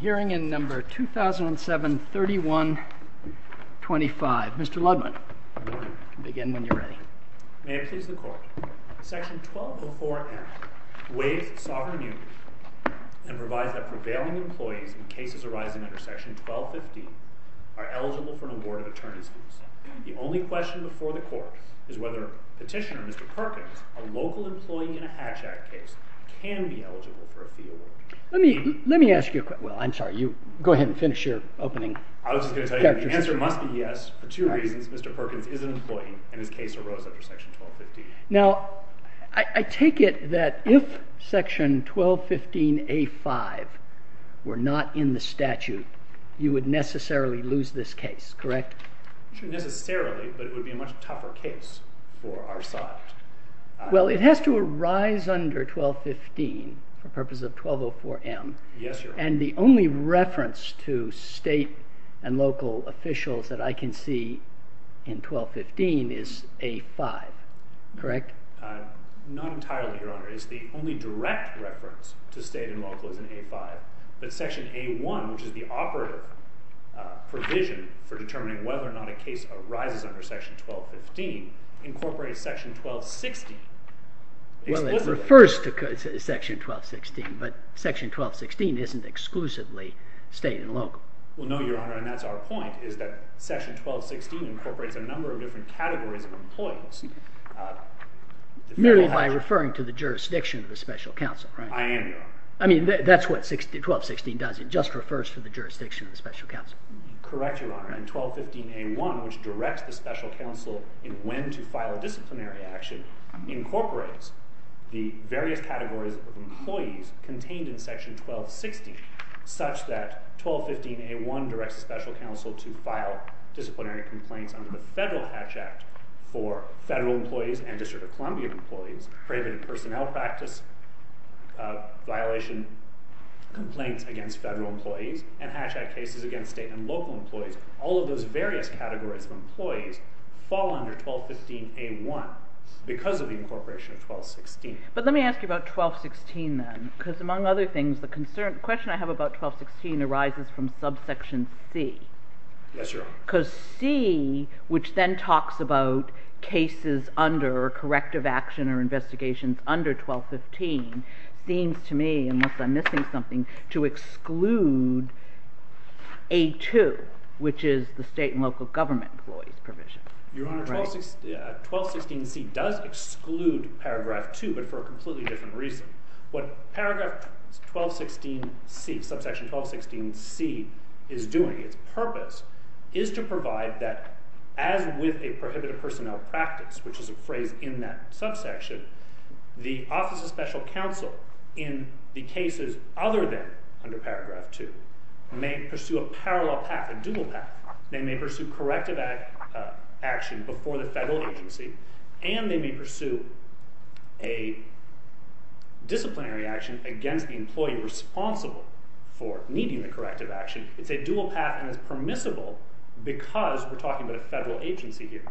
Hearing in number 2007-31-25. Mr. Ludman, begin when you're ready. May it please the Court, Section 1204-F waives sovereign duty and provides that prevailing employees in cases arising under Section 1215 are eligible for an award of attorney's fees. The only question before the Court is whether Petitioner Mr. Perkins, a local employee in a Hatch Act case, can be eligible for a fee award. The answer must be yes for two reasons. Mr. Perkins is an employee and his case arose under Section 1215. I take it that if Section 1215-A-5 were not in the statute, you would necessarily lose this case, correct? Not necessarily, but it would be a much tougher case for our side. Well, it has to arise under 1215 for purposes of 1204-M, and the only reference to state and local officials that I can see in 1215 is A-5, correct? Not entirely, Your Honor. The only direct reference to state and local is in A-5. But Section A-1, which is the operator provision for determining whether or not a case arises under Section 1215, incorporates Section 1216 exclusively. Well, it refers to Section 1216, but Section 1216 isn't exclusively state and local. Well, no, Your Honor, and that's our point, is that Section 1216 incorporates a number of different categories of employees. Merely by referring to the jurisdiction of a special counsel, right? I am, Your Honor. I mean, that's what 1216 does. It just refers to the jurisdiction of the special counsel. Correct, Your Honor, and 1215-A-1, which directs the special counsel in when to file a disciplinary action, incorporates the various categories of employees contained in Section 1216, such that 1215-A-1 directs the special counsel to file disciplinary complaints under the Federal Hatch Act for federal employees and District of Columbia employees, preventive personnel practice violation complaints against federal employees, and hatchet cases against state and local employees. All of those various categories of employees fall under 1215-A-1 because of the incorporation of 1216. But let me ask you about 1216, then, because among other things, the question I have about 1216 arises from subsection C. Yes, Your Honor. Because C, which then talks about cases under corrective action or investigations under 1215, seems to me, unless I'm missing something, to exclude A-2, which is the state and local government employees provision. Your Honor, 1216-C does exclude paragraph 2, but for a completely different reason. What paragraph 1216-C, subsection 1216-C, is doing, its purpose, is to provide that, as with a prohibitive personnel practice, which is a phrase in that subsection, the Office of Special Counsel, in the cases other than under paragraph 2, may pursue a parallel path, a dual path. They may pursue corrective action before the federal agency, and they may pursue a disciplinary action against the employee responsible for needing the corrective action. It's a dual path, and it's permissible because we're talking about a federal agency here.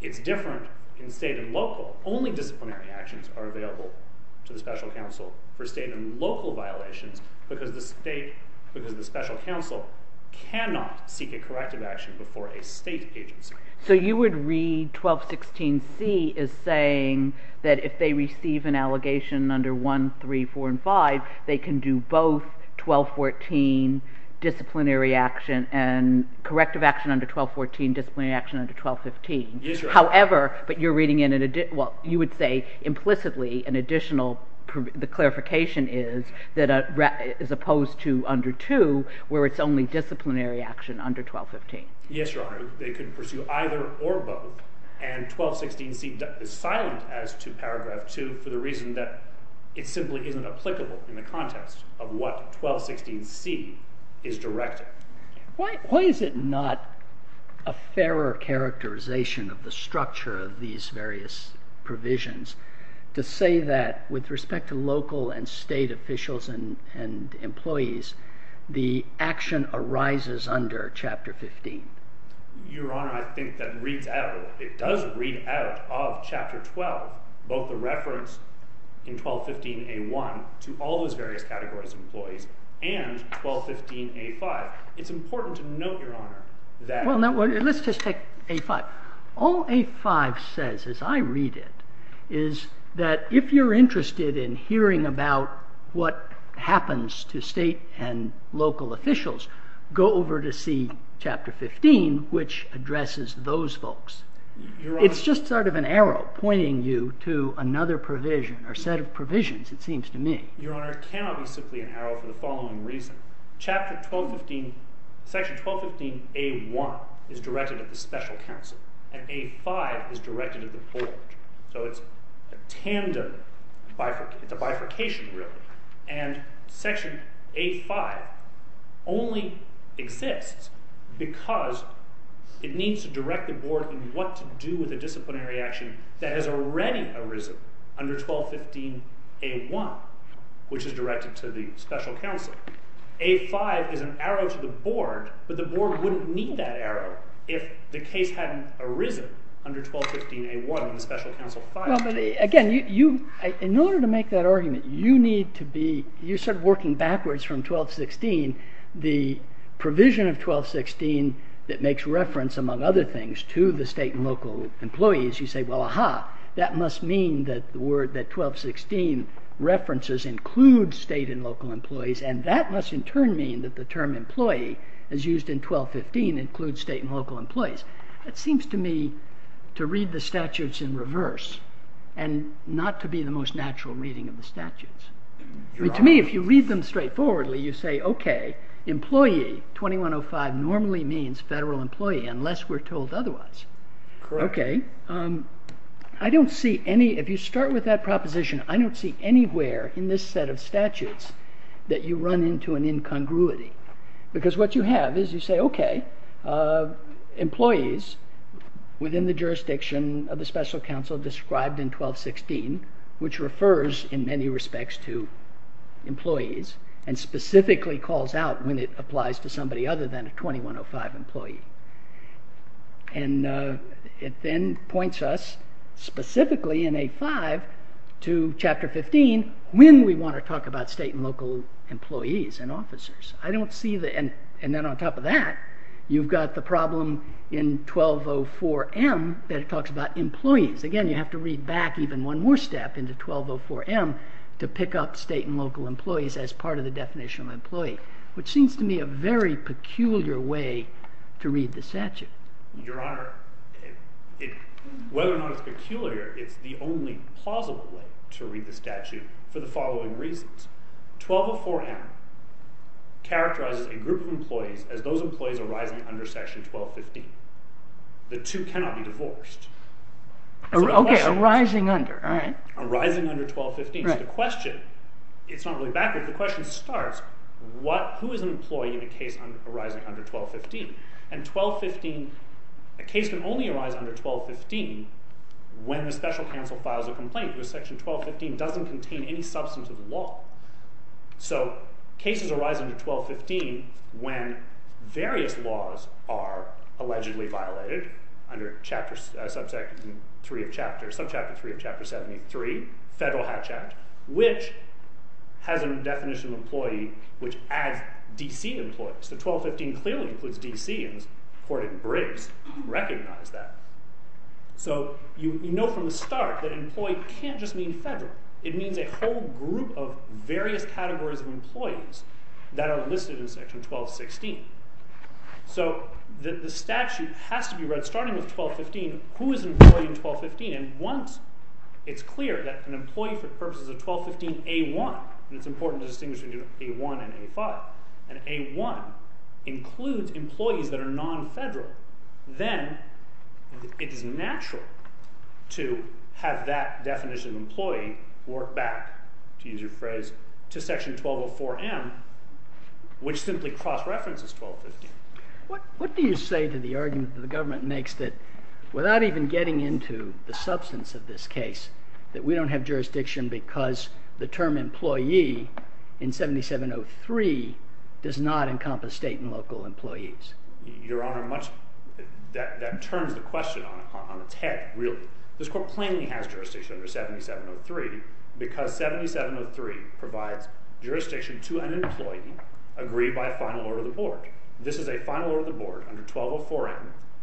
It's different in state and local. Only disciplinary actions are available to the special counsel for state and local violations, because the special counsel cannot seek a corrective action before a state agency. So you would read 1216-C as saying that if they receive an allegation under 1, 3, 4, and 5, they can do both 1214 disciplinary action and corrective action under 1214, disciplinary action under 1215. Yes, Your Honor. However, but you're reading in, well, you would say implicitly an additional, the clarification is that as opposed to under 2, where it's only disciplinary action under 1215. Yes, Your Honor. They can pursue either or both, and 1216-C is silent as to paragraph 2 for the reason that it simply isn't applicable in the context of what 1216-C is directed. Why is it not a fairer characterization of the structure of these various provisions to say that with respect to local and state officials and employees, the action arises under Chapter 15? Your Honor, I think that reads out, it does read out of Chapter 12, both the reference in 1215-A-1 to all those various categories of employees and 1215-A-5. It's important to note, Your Honor, that... Well, let's just take A-5. All A-5 says, as I read it, is that if you're interested in hearing about what happens to state and local officials, go over to see Chapter 15, which addresses those folks. It's just sort of an arrow pointing you to another provision or set of provisions, it seems to me. Your Honor, it cannot be simply an arrow for the following reason. Section 1215-A-1 is directed at the special counsel, and A-5 is directed at the board. So it's a tandem, it's a bifurcation, really. Section A-5 only exists because it needs to direct the board in what to do with a disciplinary action that has already arisen under 1215-A-1, which is directed to the special counsel. A-5 is an arrow to the board, but the board wouldn't need that arrow if the case hadn't arisen under 1215-A-1 in the special counsel file. Well, but again, in order to make that argument, you need to be, you're sort of working backwards from 1216. The provision of 1216 that makes reference, among other things, to the state and local employees, you say, well, aha, that must mean that 1216 references include state and local employees, and that must in turn mean that the term employee, as used in 1215, includes state and local employees. That seems to me to read the statutes in reverse, and not to be the most natural reading of the statutes. To me, if you read them straightforwardly, you say, okay, employee, 2105 normally means federal employee unless we're told otherwise. Okay. I don't see any, if you start with that proposition, I don't see anywhere in this set of statutes that you run into an incongruity, because what you have is you say, okay, employees within the jurisdiction of the special counsel described in 1216, which refers in many respects to employees, and specifically calls out when it applies to somebody other than a 2105 employee. And it then points us specifically in A-5 to chapter 15 when we want to talk about state and local employees and officers. And then on top of that, you've got the problem in 1204M that it talks about employees. Again, you have to read back even one more step into 1204M to pick up state and local employees as part of the definition of employee, which seems to me a very peculiar way to read the statute. Your Honor, whether or not it's peculiar, it's the only plausible way to read the statute for the following reasons. 1204M characterizes a group of employees as those employees arising under Section 1215. The two cannot be divorced. Okay, arising under, all right. Arising under 1215. So the question, it's not really backward, the question starts, who is an employee in a case arising under 1215? And 1215, a case can only arise under 1215 when the special counsel files a complaint, because Section 1215 doesn't contain any substance of the law. So cases arise under 1215 when various laws are allegedly violated under Subchapter 3 of Chapter 73, Federal Hatch Act, which has a definition of employee which adds D.C. employees. So 1215 clearly includes D.C. and it's reported in Briggs recognize that. So you know from the start that employee can't just mean federal. It means a whole group of various categories of employees that are listed in Section 1216. So the statute has to be read, starting with 1215, who is an employee in 1215? And once it's clear that an employee for purposes of 1215A1, and it's important to distinguish between A1 and A5, and A1 includes employees that are non-federal, then it is natural to have that definition of employee work back, to use your phrase, to Section 1204M, which simply cross-references 1215. What do you say to the argument that the government makes that without even getting into the substance of this case, that we don't have jurisdiction because the term employee in 7703 does not encompass state and local employees? Your Honor, that turns the question on its head, really. This Court plainly has jurisdiction under 7703 because 7703 provides jurisdiction to an employee agreed by a final order of the Board. This is a final order of the Board under 1204M,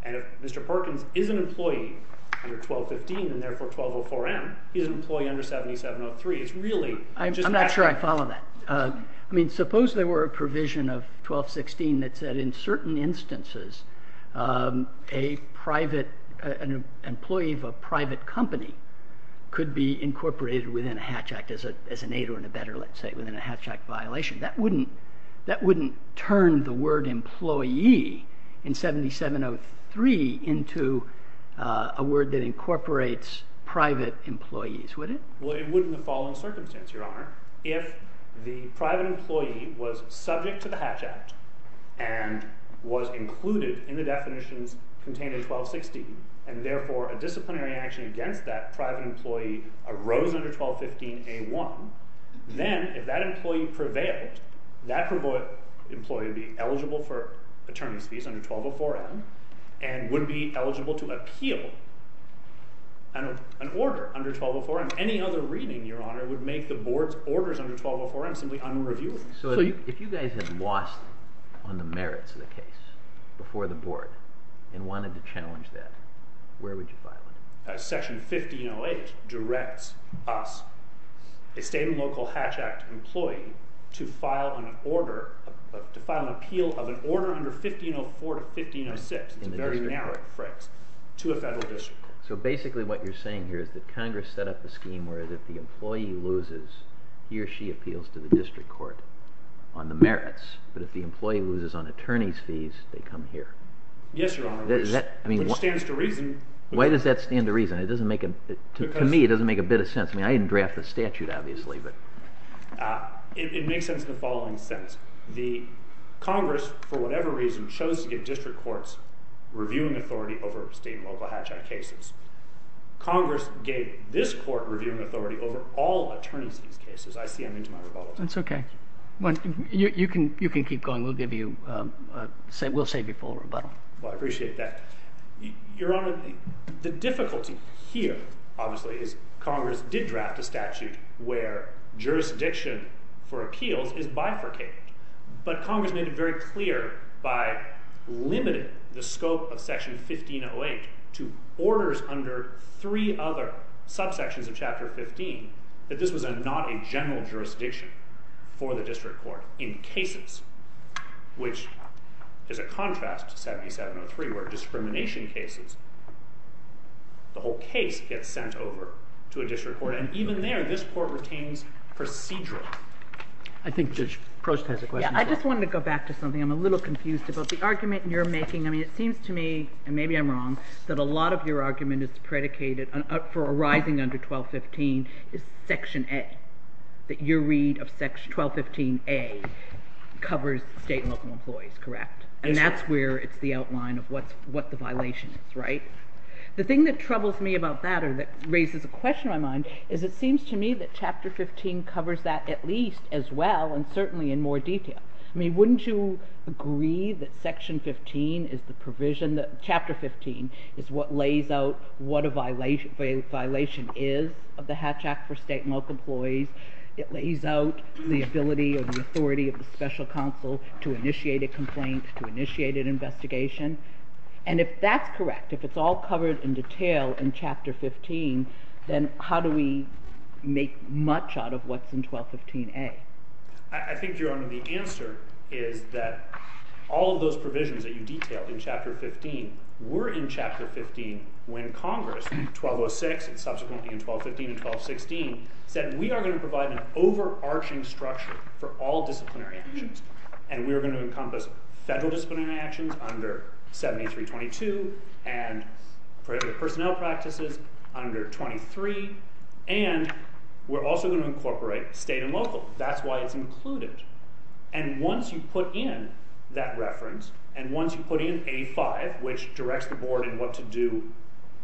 and if Mr. Perkins is an employee under 1215 and therefore 1204M, he's an employee under 7703. I'm not sure I follow that. Suppose there were a provision of 1216 that said in certain instances an employee of a private company could be incorporated within a hatch act as an aid or in a better let's say within a hatch act violation. That wouldn't turn the word employee in 7703 into a word that incorporates private employees, would it? It wouldn't in the following circumstance, Your Honor. If the private employee was subject to the hatch act and was included in the definitions contained in 1216 and therefore a disciplinary action against that private employee arose under 1215A1, then if that employee prevailed, that employee would be eligible for attorney's fees under 1204M and would be eligible to appeal an order under 1204M. Any other reading, Your Honor, would make the Board's orders under 1204M simply unreviewable. If you guys had lost on the merits of the case before the Board and wanted to challenge that, where would you file it? Section 1508 directs us, a state and local hatch act employee, to file an appeal of an order under 1504 to 1506. It's a very narrow phrase. To a federal district court. So basically what you're saying here is that Congress set up a scheme where if the employee loses, he or she appeals to the district court on the merits, but if the employee loses on attorney's fees, they come here. Yes, Your Honor, which stands to reason. Why does that stand to reason? To me, it doesn't make a bit of sense. I didn't draft the statute, obviously. It makes sense in the following sense. Congress, for whatever reason, chose to give district courts reviewing authority over state and local hatch act cases. Congress gave this court reviewing authority over all attorneys in these cases. I see I'm into my rebuttal. That's okay. You can keep going. We'll save you full rebuttal. Well, I appreciate that. Your Honor, the difficulty here, obviously, is Congress did draft a statute where jurisdiction for appeals is bifurcated. But Congress made it very clear by limiting the scope of Section 1508 to orders under three other subsections of Chapter 15 that this was not a general jurisdiction for the district court in cases, which is a contrast to 7703 where discrimination cases, the whole case gets sent over to a district court. And even there, this court retains procedural. I think Judge Prost has a question. I just wanted to go back to something. I'm a little confused about the argument you're making. I mean, it seems to me, and maybe I'm wrong, that a lot of your argument is predicated for arising under 1215 is Section A, that your read of 1215A covers state and local employees, correct? And that's where it's the outline of what the violation is, right? It seems to me that Chapter 15 covers that at least as well, and certainly in more detail. I mean, wouldn't you agree that Section 15 is the provision, that Chapter 15 is what lays out what a violation is of the Hatch Act for state and local employees? It lays out the ability or the authority of the special counsel to initiate a complaint, to initiate an investigation. And if that's correct, if it's all covered in detail in Chapter 15, then how do we make much out of what's in 1215A? I think, Your Honor, the answer is that all of those provisions that you detail in Chapter 15 were in Chapter 15 when Congress, 1206 and subsequently in 1215 and 1216, said we are going to provide an overarching structure for all disciplinary actions. And we are going to encompass federal disciplinary actions under 7322 and personnel practices under 23, and we're also going to incorporate state and local. That's why it's included. And once you put in that reference, and once you put in A5, which directs the Board in what to do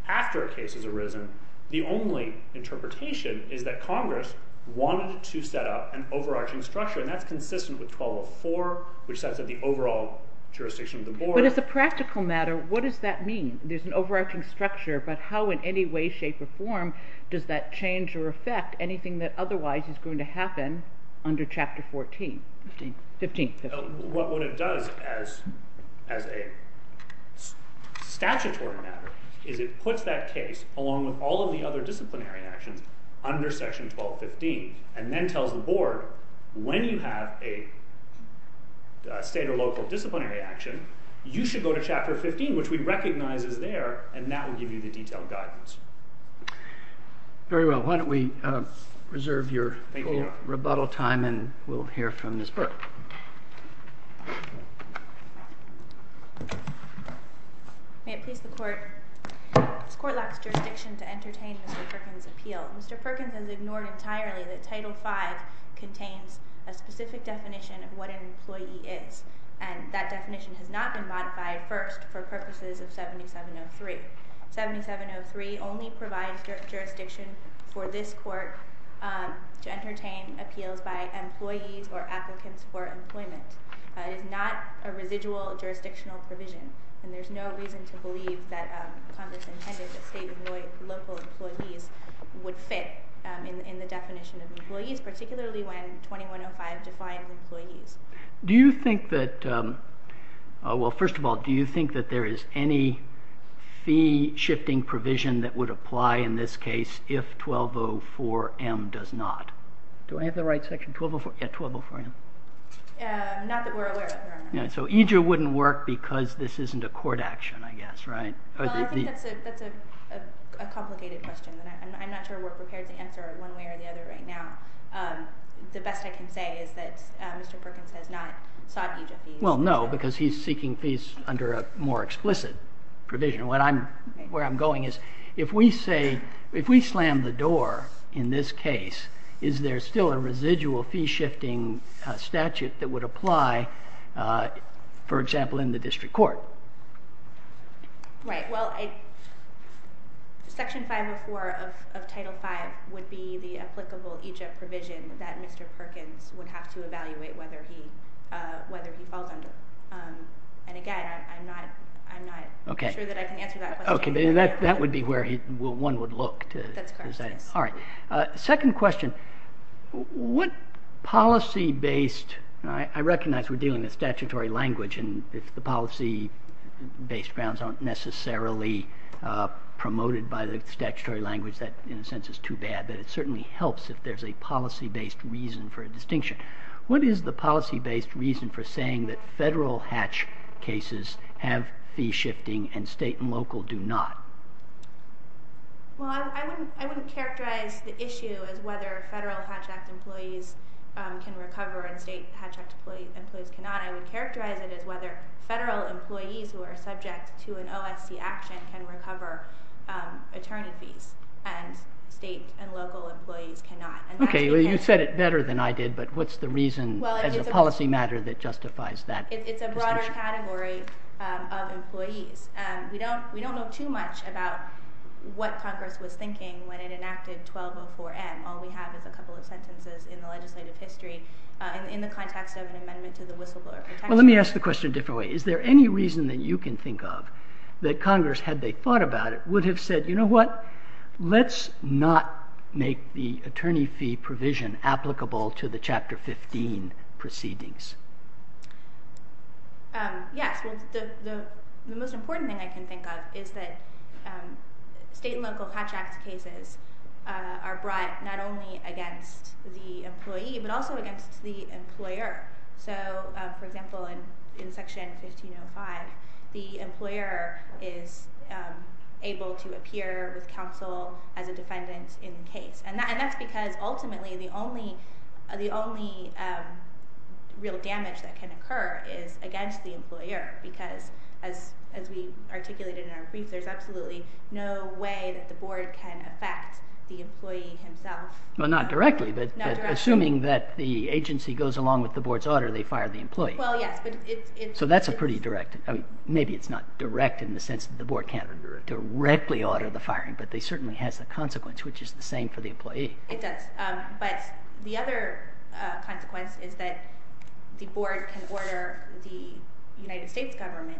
after a case has arisen, the only interpretation is that Congress wanted to set up an overarching structure, and that's consistent with 1204, which sets up the overall jurisdiction of the Board. But as a practical matter, what does that mean? There's an overarching structure, but how in any way, shape, or form does that change or affect anything that otherwise is going to happen under Chapter 14? What it does as a statutory matter is it puts that case, along with all of the other disciplinary actions, under Section 1215 and then tells the Board when you have a state or local disciplinary action, you should go to Chapter 15, which we recognize is there, and that will give you the detailed guidance. Very well. Why don't we reserve your little rebuttal time, and we'll hear from Ms. Burke. May it please the Court. This Court lacks jurisdiction to entertain Mr. Perkins' appeal. Mr. Perkins has ignored entirely that Title V contains a specific definition of what an employee is, and that definition has not been modified first for purposes of 7703. 7703 only provides jurisdiction for this Court to entertain appeals by employees or applicants for employment. It is not a residual jurisdictional provision, and there's no reason to believe that Congress intended that state and local employees would fit in the definition of employees, particularly when 2105 defines employees. First of all, do you think that there is any fee-shifting provision that would apply in this case if 1204M does not? Do I have the right section? Yes, 1204M. Not that we're aware of. So EJU wouldn't work because this isn't a court action, I guess, right? I think that's a complicated question, and I'm not sure we're prepared to answer it one way or the other right now. The best I can say is that Mr. Perkins has not sought EJU fees. Well, no, because he's seeking fees under a more explicit provision. Where I'm going is if we slam the door in this case, is there still a residual fee-shifting statute that would apply, for example, in the district court? Right. Well, Section 504 of Title V would be the applicable EJU provision that Mr. Perkins would have to evaluate whether he falls under. And, again, I'm not sure that I can answer that question. Okay. That would be where one would look to decide. That's correct, yes. All right. Second question. What policy-based—I recognize we're dealing with statutory language, and if the policy-based grounds aren't necessarily promoted by the statutory language, that, in a sense, is too bad. But it certainly helps if there's a policy-based reason for a distinction. What is the policy-based reason for saying that federal hatch cases have fee-shifting and state and local do not? Well, I wouldn't characterize the issue as whether federal Hatch Act employees can recover and state Hatch Act employees cannot. I would characterize it as whether federal employees who are subject to an OSC action can recover attorney fees, and state and local employees cannot. Okay. Well, you said it better than I did, but what's the reason as a policy matter that justifies that? It's a broader category of employees. We don't know too much about what Congress was thinking when it enacted 1204M. All we have is a couple of sentences in the legislative history in the context of an amendment to the whistleblower protection. Well, let me ask the question a different way. Is there any reason that you can think of that Congress, had they thought about it, would have said, you know what, let's not make the attorney fee provision applicable to the Chapter 15 proceedings? Yes. The most important thing I can think of is that state and local Hatch Act cases are brought not only against the employee but also against the employer. So, for example, in Section 1505, the employer is able to appear with counsel as a defendant in the case. And that's because ultimately the only real damage that can occur is against the employer because as we articulated in our brief, there's absolutely no way that the board can affect the employee himself. Well, not directly, but assuming that the agency goes along with the board's order, they fire the employee. Well, yes, but it's... So that's a pretty direct... I mean, maybe it's not direct in the sense that the board can't directly order the firing, but they certainly has the consequence, which is the same for the employee. It does. But the other consequence is that the board can order the United States government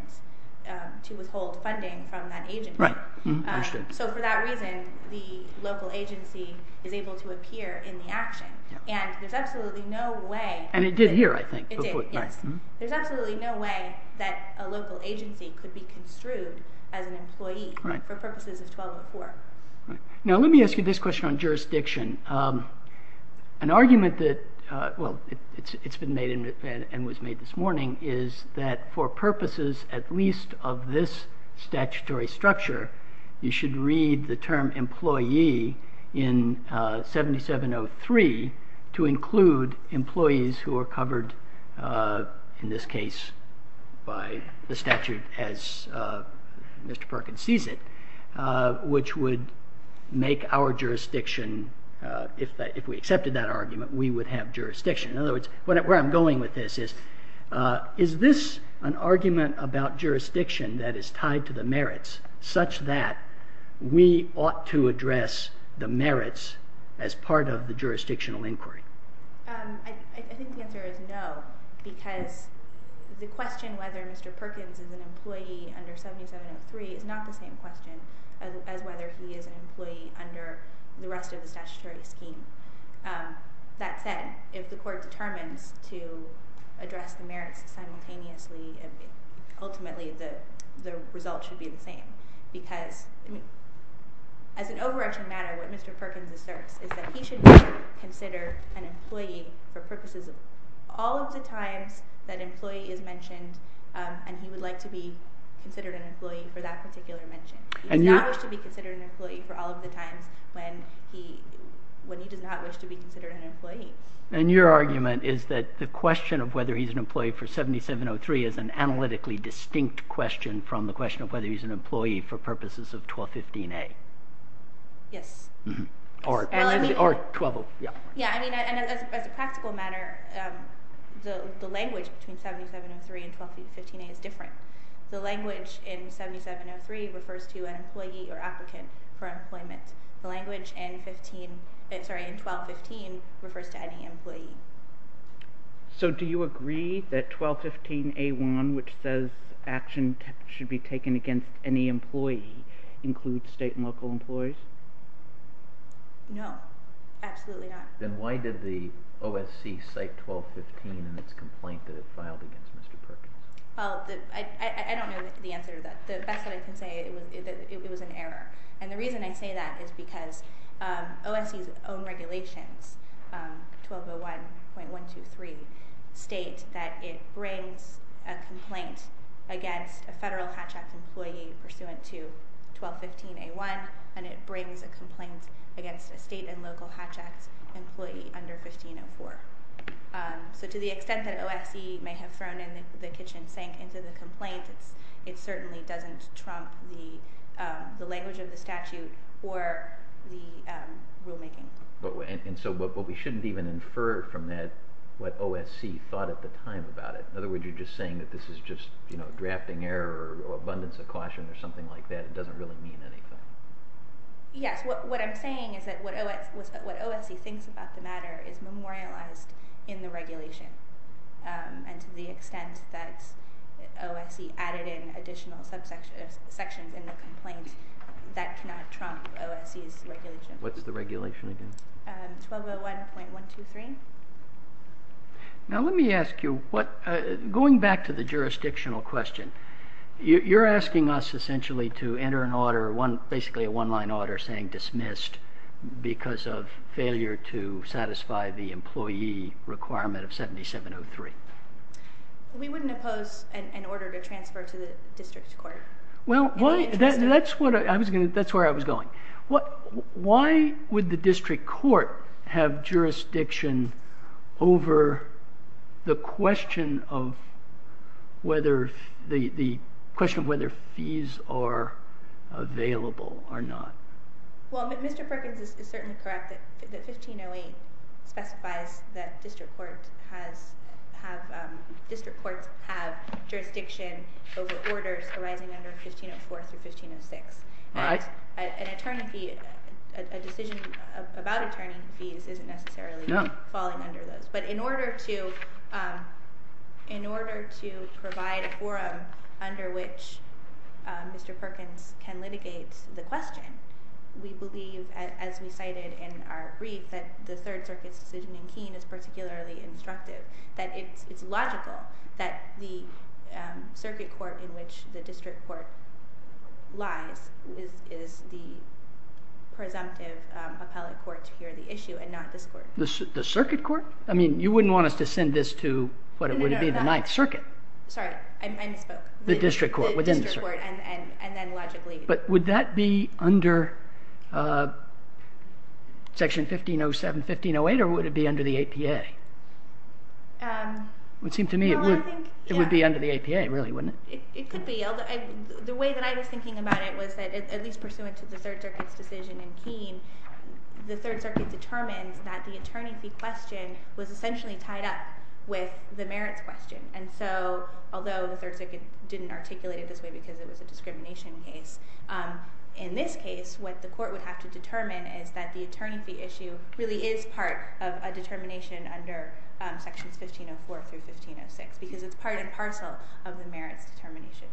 to withhold funding from that agency. Right, understood. So for that reason, the local agency is able to appear in the action. And there's absolutely no way... And it did here, I think. It did, yes. There's absolutely no way that a local agency could be construed as an employee for purposes of 1204. Now, let me ask you this question on jurisdiction. An argument that... Well, it's been made and was made this morning, is that for purposes at least of this statutory structure, you should read the term employee in 7703 to include employees who are covered, in this case, by the statute as Mr. Perkins sees it, which would make our jurisdiction, if we accepted that argument, we would have jurisdiction. In other words, where I'm going with this is, is this an argument about jurisdiction that is tied to the merits such that we ought to address the merits as part of the jurisdictional inquiry? I think the answer is no, because the question whether Mr. Perkins is an employee under 7703 is not the same question as whether he is an employee under the rest of the statutory scheme. That said, if the court determines to address the merits simultaneously, ultimately the result should be the same, because as an overarching matter, what Mr. Perkins asserts is that he should be considered an employee for purposes of all of the times that employee is mentioned, and he would like to be considered an employee for that particular mention. He does not wish to be considered an employee for all of the times when he does not wish to be considered an employee. And your argument is that the question of whether he's an employee for 7703 is an analytically distinct question from the question of whether he's an employee for purposes of 1215A? Yes. Or 1203. As a practical matter, the language between 7703 and 1215A is different. The language in 7703 refers to an employee or applicant for employment. The language in 1215 refers to any employee. So do you agree that 1215A.1, which says action should be taken against any employee, includes state and local employees? No, absolutely not. Then why did the OSC cite 1215 in its complaint that it filed against Mr. Perkins? Well, I don't know the answer to that. The best that I can say is that it was an error. And the reason I say that is because OSC's own regulations, 1201.123, state that it brings a complaint against a federal Hatch Act employee pursuant to 1215A.1, and it brings a complaint against a state and local Hatch Act employee under 1504. So to the extent that OSC may have thrown the kitchen sink into the complaint, it certainly doesn't trump the language of the statute or the rulemaking. But we shouldn't even infer from that what OSC thought at the time about it. In other words, you're just saying that this is just drafting error or abundance of caution or something like that. It doesn't really mean anything. Yes, what I'm saying is that what OSC thinks about the matter is memorialized in the regulation. And to the extent that OSC added in additional sections in the complaint, that cannot trump OSC's regulation. What's the regulation again? 1201.123. Now let me ask you, going back to the jurisdictional question, you're asking us essentially to enter an order, basically a one-line order saying dismissed because of failure to satisfy the employee requirement of 7703. We wouldn't oppose an order to transfer to the district court. Well, that's where I was going. Why would the district court have jurisdiction over the question of whether fees are available or not? Well, Mr. Perkins is certainly correct that 1508 specifies that district courts have jurisdiction over orders arising under 1504 through 1506. An attorney fee, a decision about attorney fees, isn't necessarily falling under those. But in order to provide a forum under which Mr. Perkins can litigate the question, we believe, as we cited in our brief, that the Third Circuit's decision in Keene is particularly instructive, that it's logical that the circuit court in which the district court lies is the presumptive appellate court to hear the issue and not this court. The circuit court? I mean, you wouldn't want us to send this to what would be the Ninth Circuit. Sorry, I misspoke. The district court within the circuit. And then logically... But would that be under Section 1507, 1508 or would it be under the APA? It would seem to me it would be under the APA, really, wouldn't it? It could be. The way that I was thinking about it was that, at least pursuant to the Third Circuit's decision in Keene, the Third Circuit determined that the attorney fee question was essentially tied up with the merits question. And so, although the Third Circuit didn't articulate it this way because it was a discrimination case, in this case what the court would have to determine is that the attorney fee issue really is part of a determination under Sections 1504 through 1506 because it's part and parcel of the merits determination.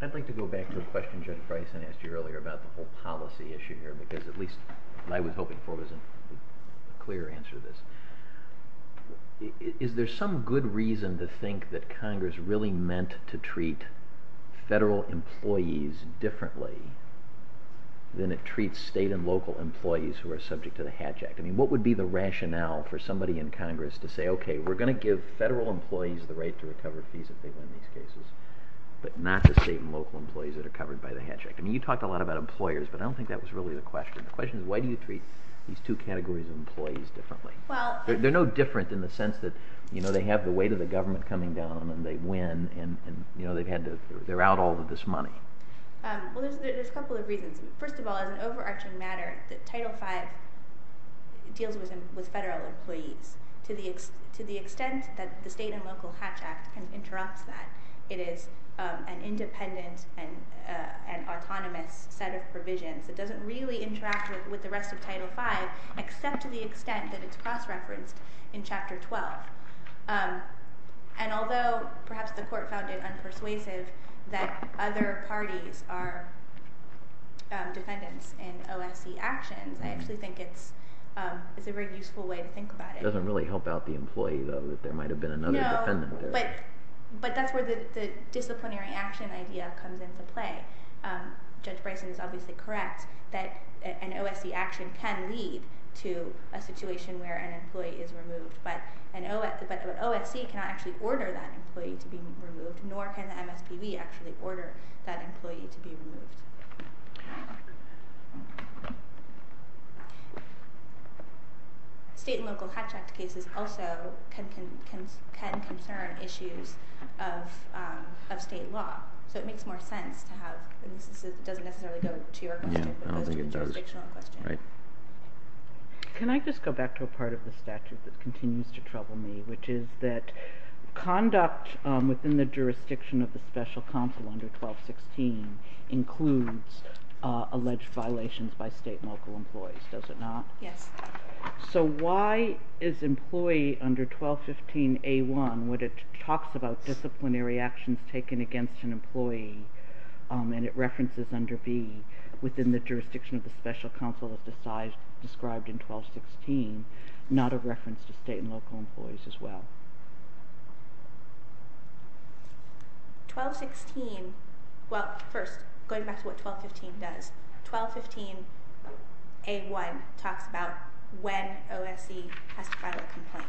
I'd like to go back to a question Judge Freisen asked you earlier about the whole policy issue here, because at least what I was hoping for was a clear answer to this. Is there some good reason to think that Congress really meant to treat federal employees differently than it treats state and local employees who are subject to the Hatch Act? I mean, what would be the rationale for somebody in Congress to say, okay, we're going to give federal employees the right to recover fees if they win these cases, but not the state and local employees that are covered by the Hatch Act? I mean, you talked a lot about employers, but I don't think that was really the question. The question is why do you treat these two categories of employees differently? They're no different in the sense that they have the weight of the government coming down on them, they win, and they're out all of this money. Well, there's a couple of reasons. First of all, as an overarching matter, Title V deals with federal employees to the extent that the state and local Hatch Act can interrupt that. It is an independent and autonomous set of provisions. It doesn't really interact with the rest of Title V except to the extent that it's cross-referenced in Chapter 12. And although perhaps the Court found it unpersuasive that other parties are dependents in OFC actions, I actually think it's a very useful way to think about it. It doesn't really help out the employee, though, that there might have been another dependent there. But that's where the disciplinary action idea comes into play. Judge Bryson is obviously correct that an OFC action can lead to a situation where an employee is removed, but an OFC cannot actually order that employee to be removed, nor can the MSPB actually order that employee to be removed. State and local Hatch Act cases also can concern issues of state law. So it makes more sense to have... It doesn't necessarily go to your question, but goes to the jurisdictional question. Can I just go back to a part of the statute that continues to trouble me, which is that conduct within the jurisdiction of the Special Counsel under 1216 includes alleged violations by state and local employees, does it not? Yes. So why is employee under 1215A1, when it talks about disciplinary actions taken against an employee and it references under B, within the jurisdiction of the Special Counsel as described in 1216, not a reference to state and local employees as well? First, going back to what 1215 does, 1215A1 talks about when OFC has to file a complaint.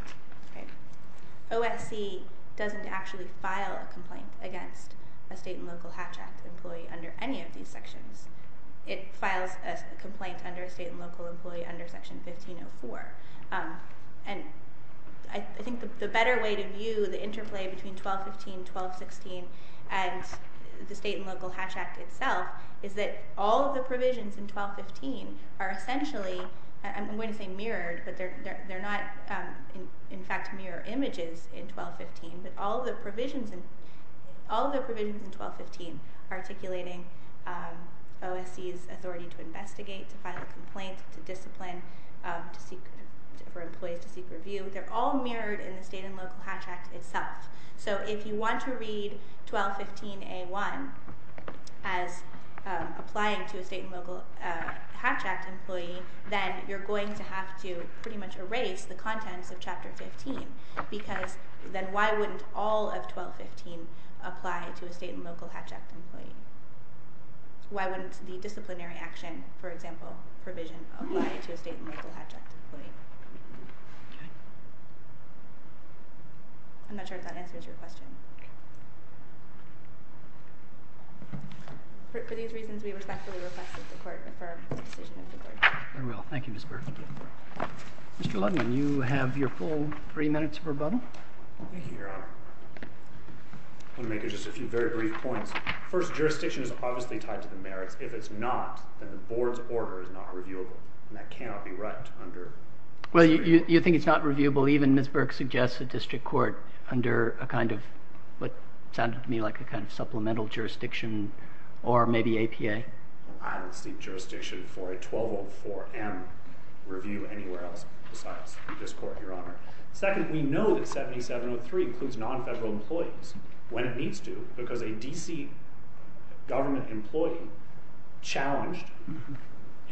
OFC doesn't actually file a complaint against a state and local Hatch Act employee under any of these sections. It files a complaint under a state and local employee under Section 1504. And I think the better way to view the interplay between 1215, 1216, and the state and local Hatch Act itself is that all of the provisions in 1215 are essentially, I'm going to say mirrored, but they're not in fact mirror images in 1215, but all of the provisions in 1215 articulating OFC's authority to investigate, to file a complaint, to discipline for employees to seek review, they're all mirrored in the state and local Hatch Act itself. So if you want to read 1215A1 as applying to a state and local Hatch Act employee, then you're going to have to pretty much erase the contents of Chapter 15 because then why wouldn't all of 1215 apply to a state and local Hatch Act employee? Why wouldn't the disciplinary action, for example, provision apply to a state and local Hatch Act employee? Okay. I'm not sure if that answers your question. Okay. For these reasons, we respectfully request that the Court affirm the decision of the Court. I will. Thank you, Ms. Burke. Mr. Ludman, you have your full three minutes for rebuttal. Thank you, Your Honor. I'm going to make just a few very brief points. First, jurisdiction is obviously tied to the merits. If it's not, then the Board's order is not reviewable, and that cannot be right under reviewable. Well, you think it's not reviewable? Even Ms. Burke suggests a district court under a kind of what sounded to me like a kind of supplemental jurisdiction or maybe APA. I don't seek jurisdiction for a 1204M review anywhere else besides this Court, Your Honor. Second, we know that 7703 includes nonfederal employees when it needs to because a D.C. government employee challenged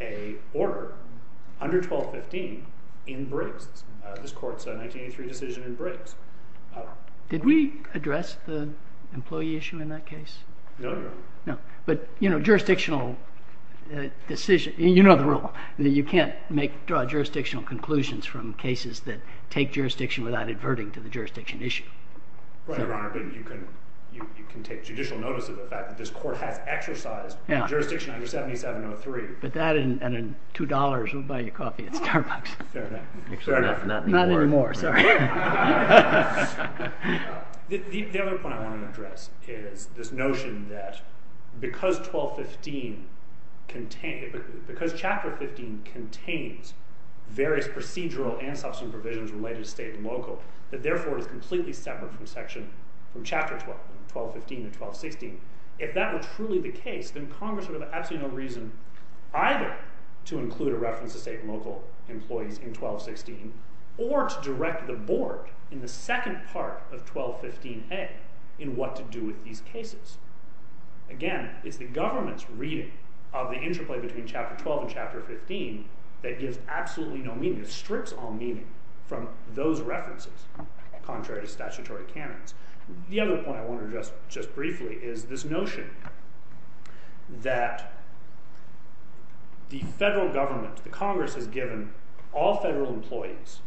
a order under 1215 in Briggs. This Court's 1983 decision in Briggs. Did we address the employee issue in that case? No, Your Honor. No. But, you know, jurisdictional decision – you know the rule. You can't make – draw jurisdictional conclusions from cases that take jurisdiction without adverting to the jurisdiction issue. Right, Your Honor. But you can take judicial notice of the fact that this Court has exercised jurisdiction under 7703. But that and in $2, we'll buy you coffee at Starbucks. Fair enough. Fair enough. Not anymore. Not anymore. Sorry. The other point I want to address is this notion that because 1215 contains – because Chapter 15 contains various procedural and substantive provisions related to state and local that therefore is completely separate from Section – from Chapter 1215 to 1216. If that were truly the case, then Congress would have absolutely no reason either to include a reference to state and local employees in 1216 or to direct the Board in the second part of 1215A in what to do with these cases. Again, it's the government's reading of the interplay between Chapter 12 and Chapter 15 that gives absolutely no meaning. It strips all meaning from those references contrary to statutory canons. The other point I want to address just briefly is this notion that the federal government – the Congress has given all federal employees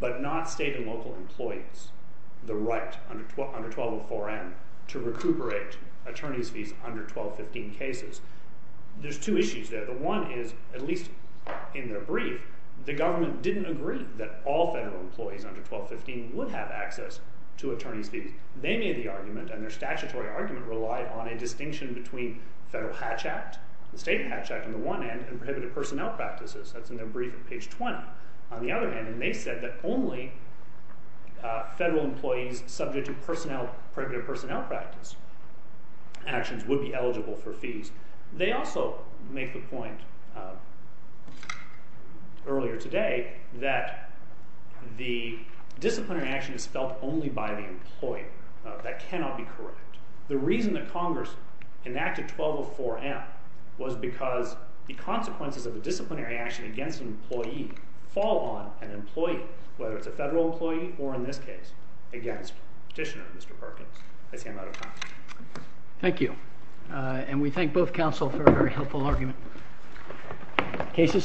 but not state and local employees the right under 1204N to recuperate attorneys' fees under 1215 cases. There's two issues there. One is, at least in their brief, the government didn't agree that all federal employees under 1215 would have access to attorneys' fees. They made the argument, and their statutory argument relied on a distinction between the Federal Hatch Act, the State Hatch Act on the one hand, and prohibited personnel practices. That's in their brief on page 20 on the other hand. They said that only federal employees subject to prohibited personnel practice actions would be eligible for fees. They also make the point earlier today that the disciplinary action is felt only by the employee. That cannot be correct. The reason that Congress enacted 1204N was because the consequences of a disciplinary action against an employee fall on an employee, whether it's a federal employee or, in this case, against Petitioner, Mr. Perkins. I see I'm out of time. Thank you. And we thank both counsel for a very helpful argument. Case is submitted.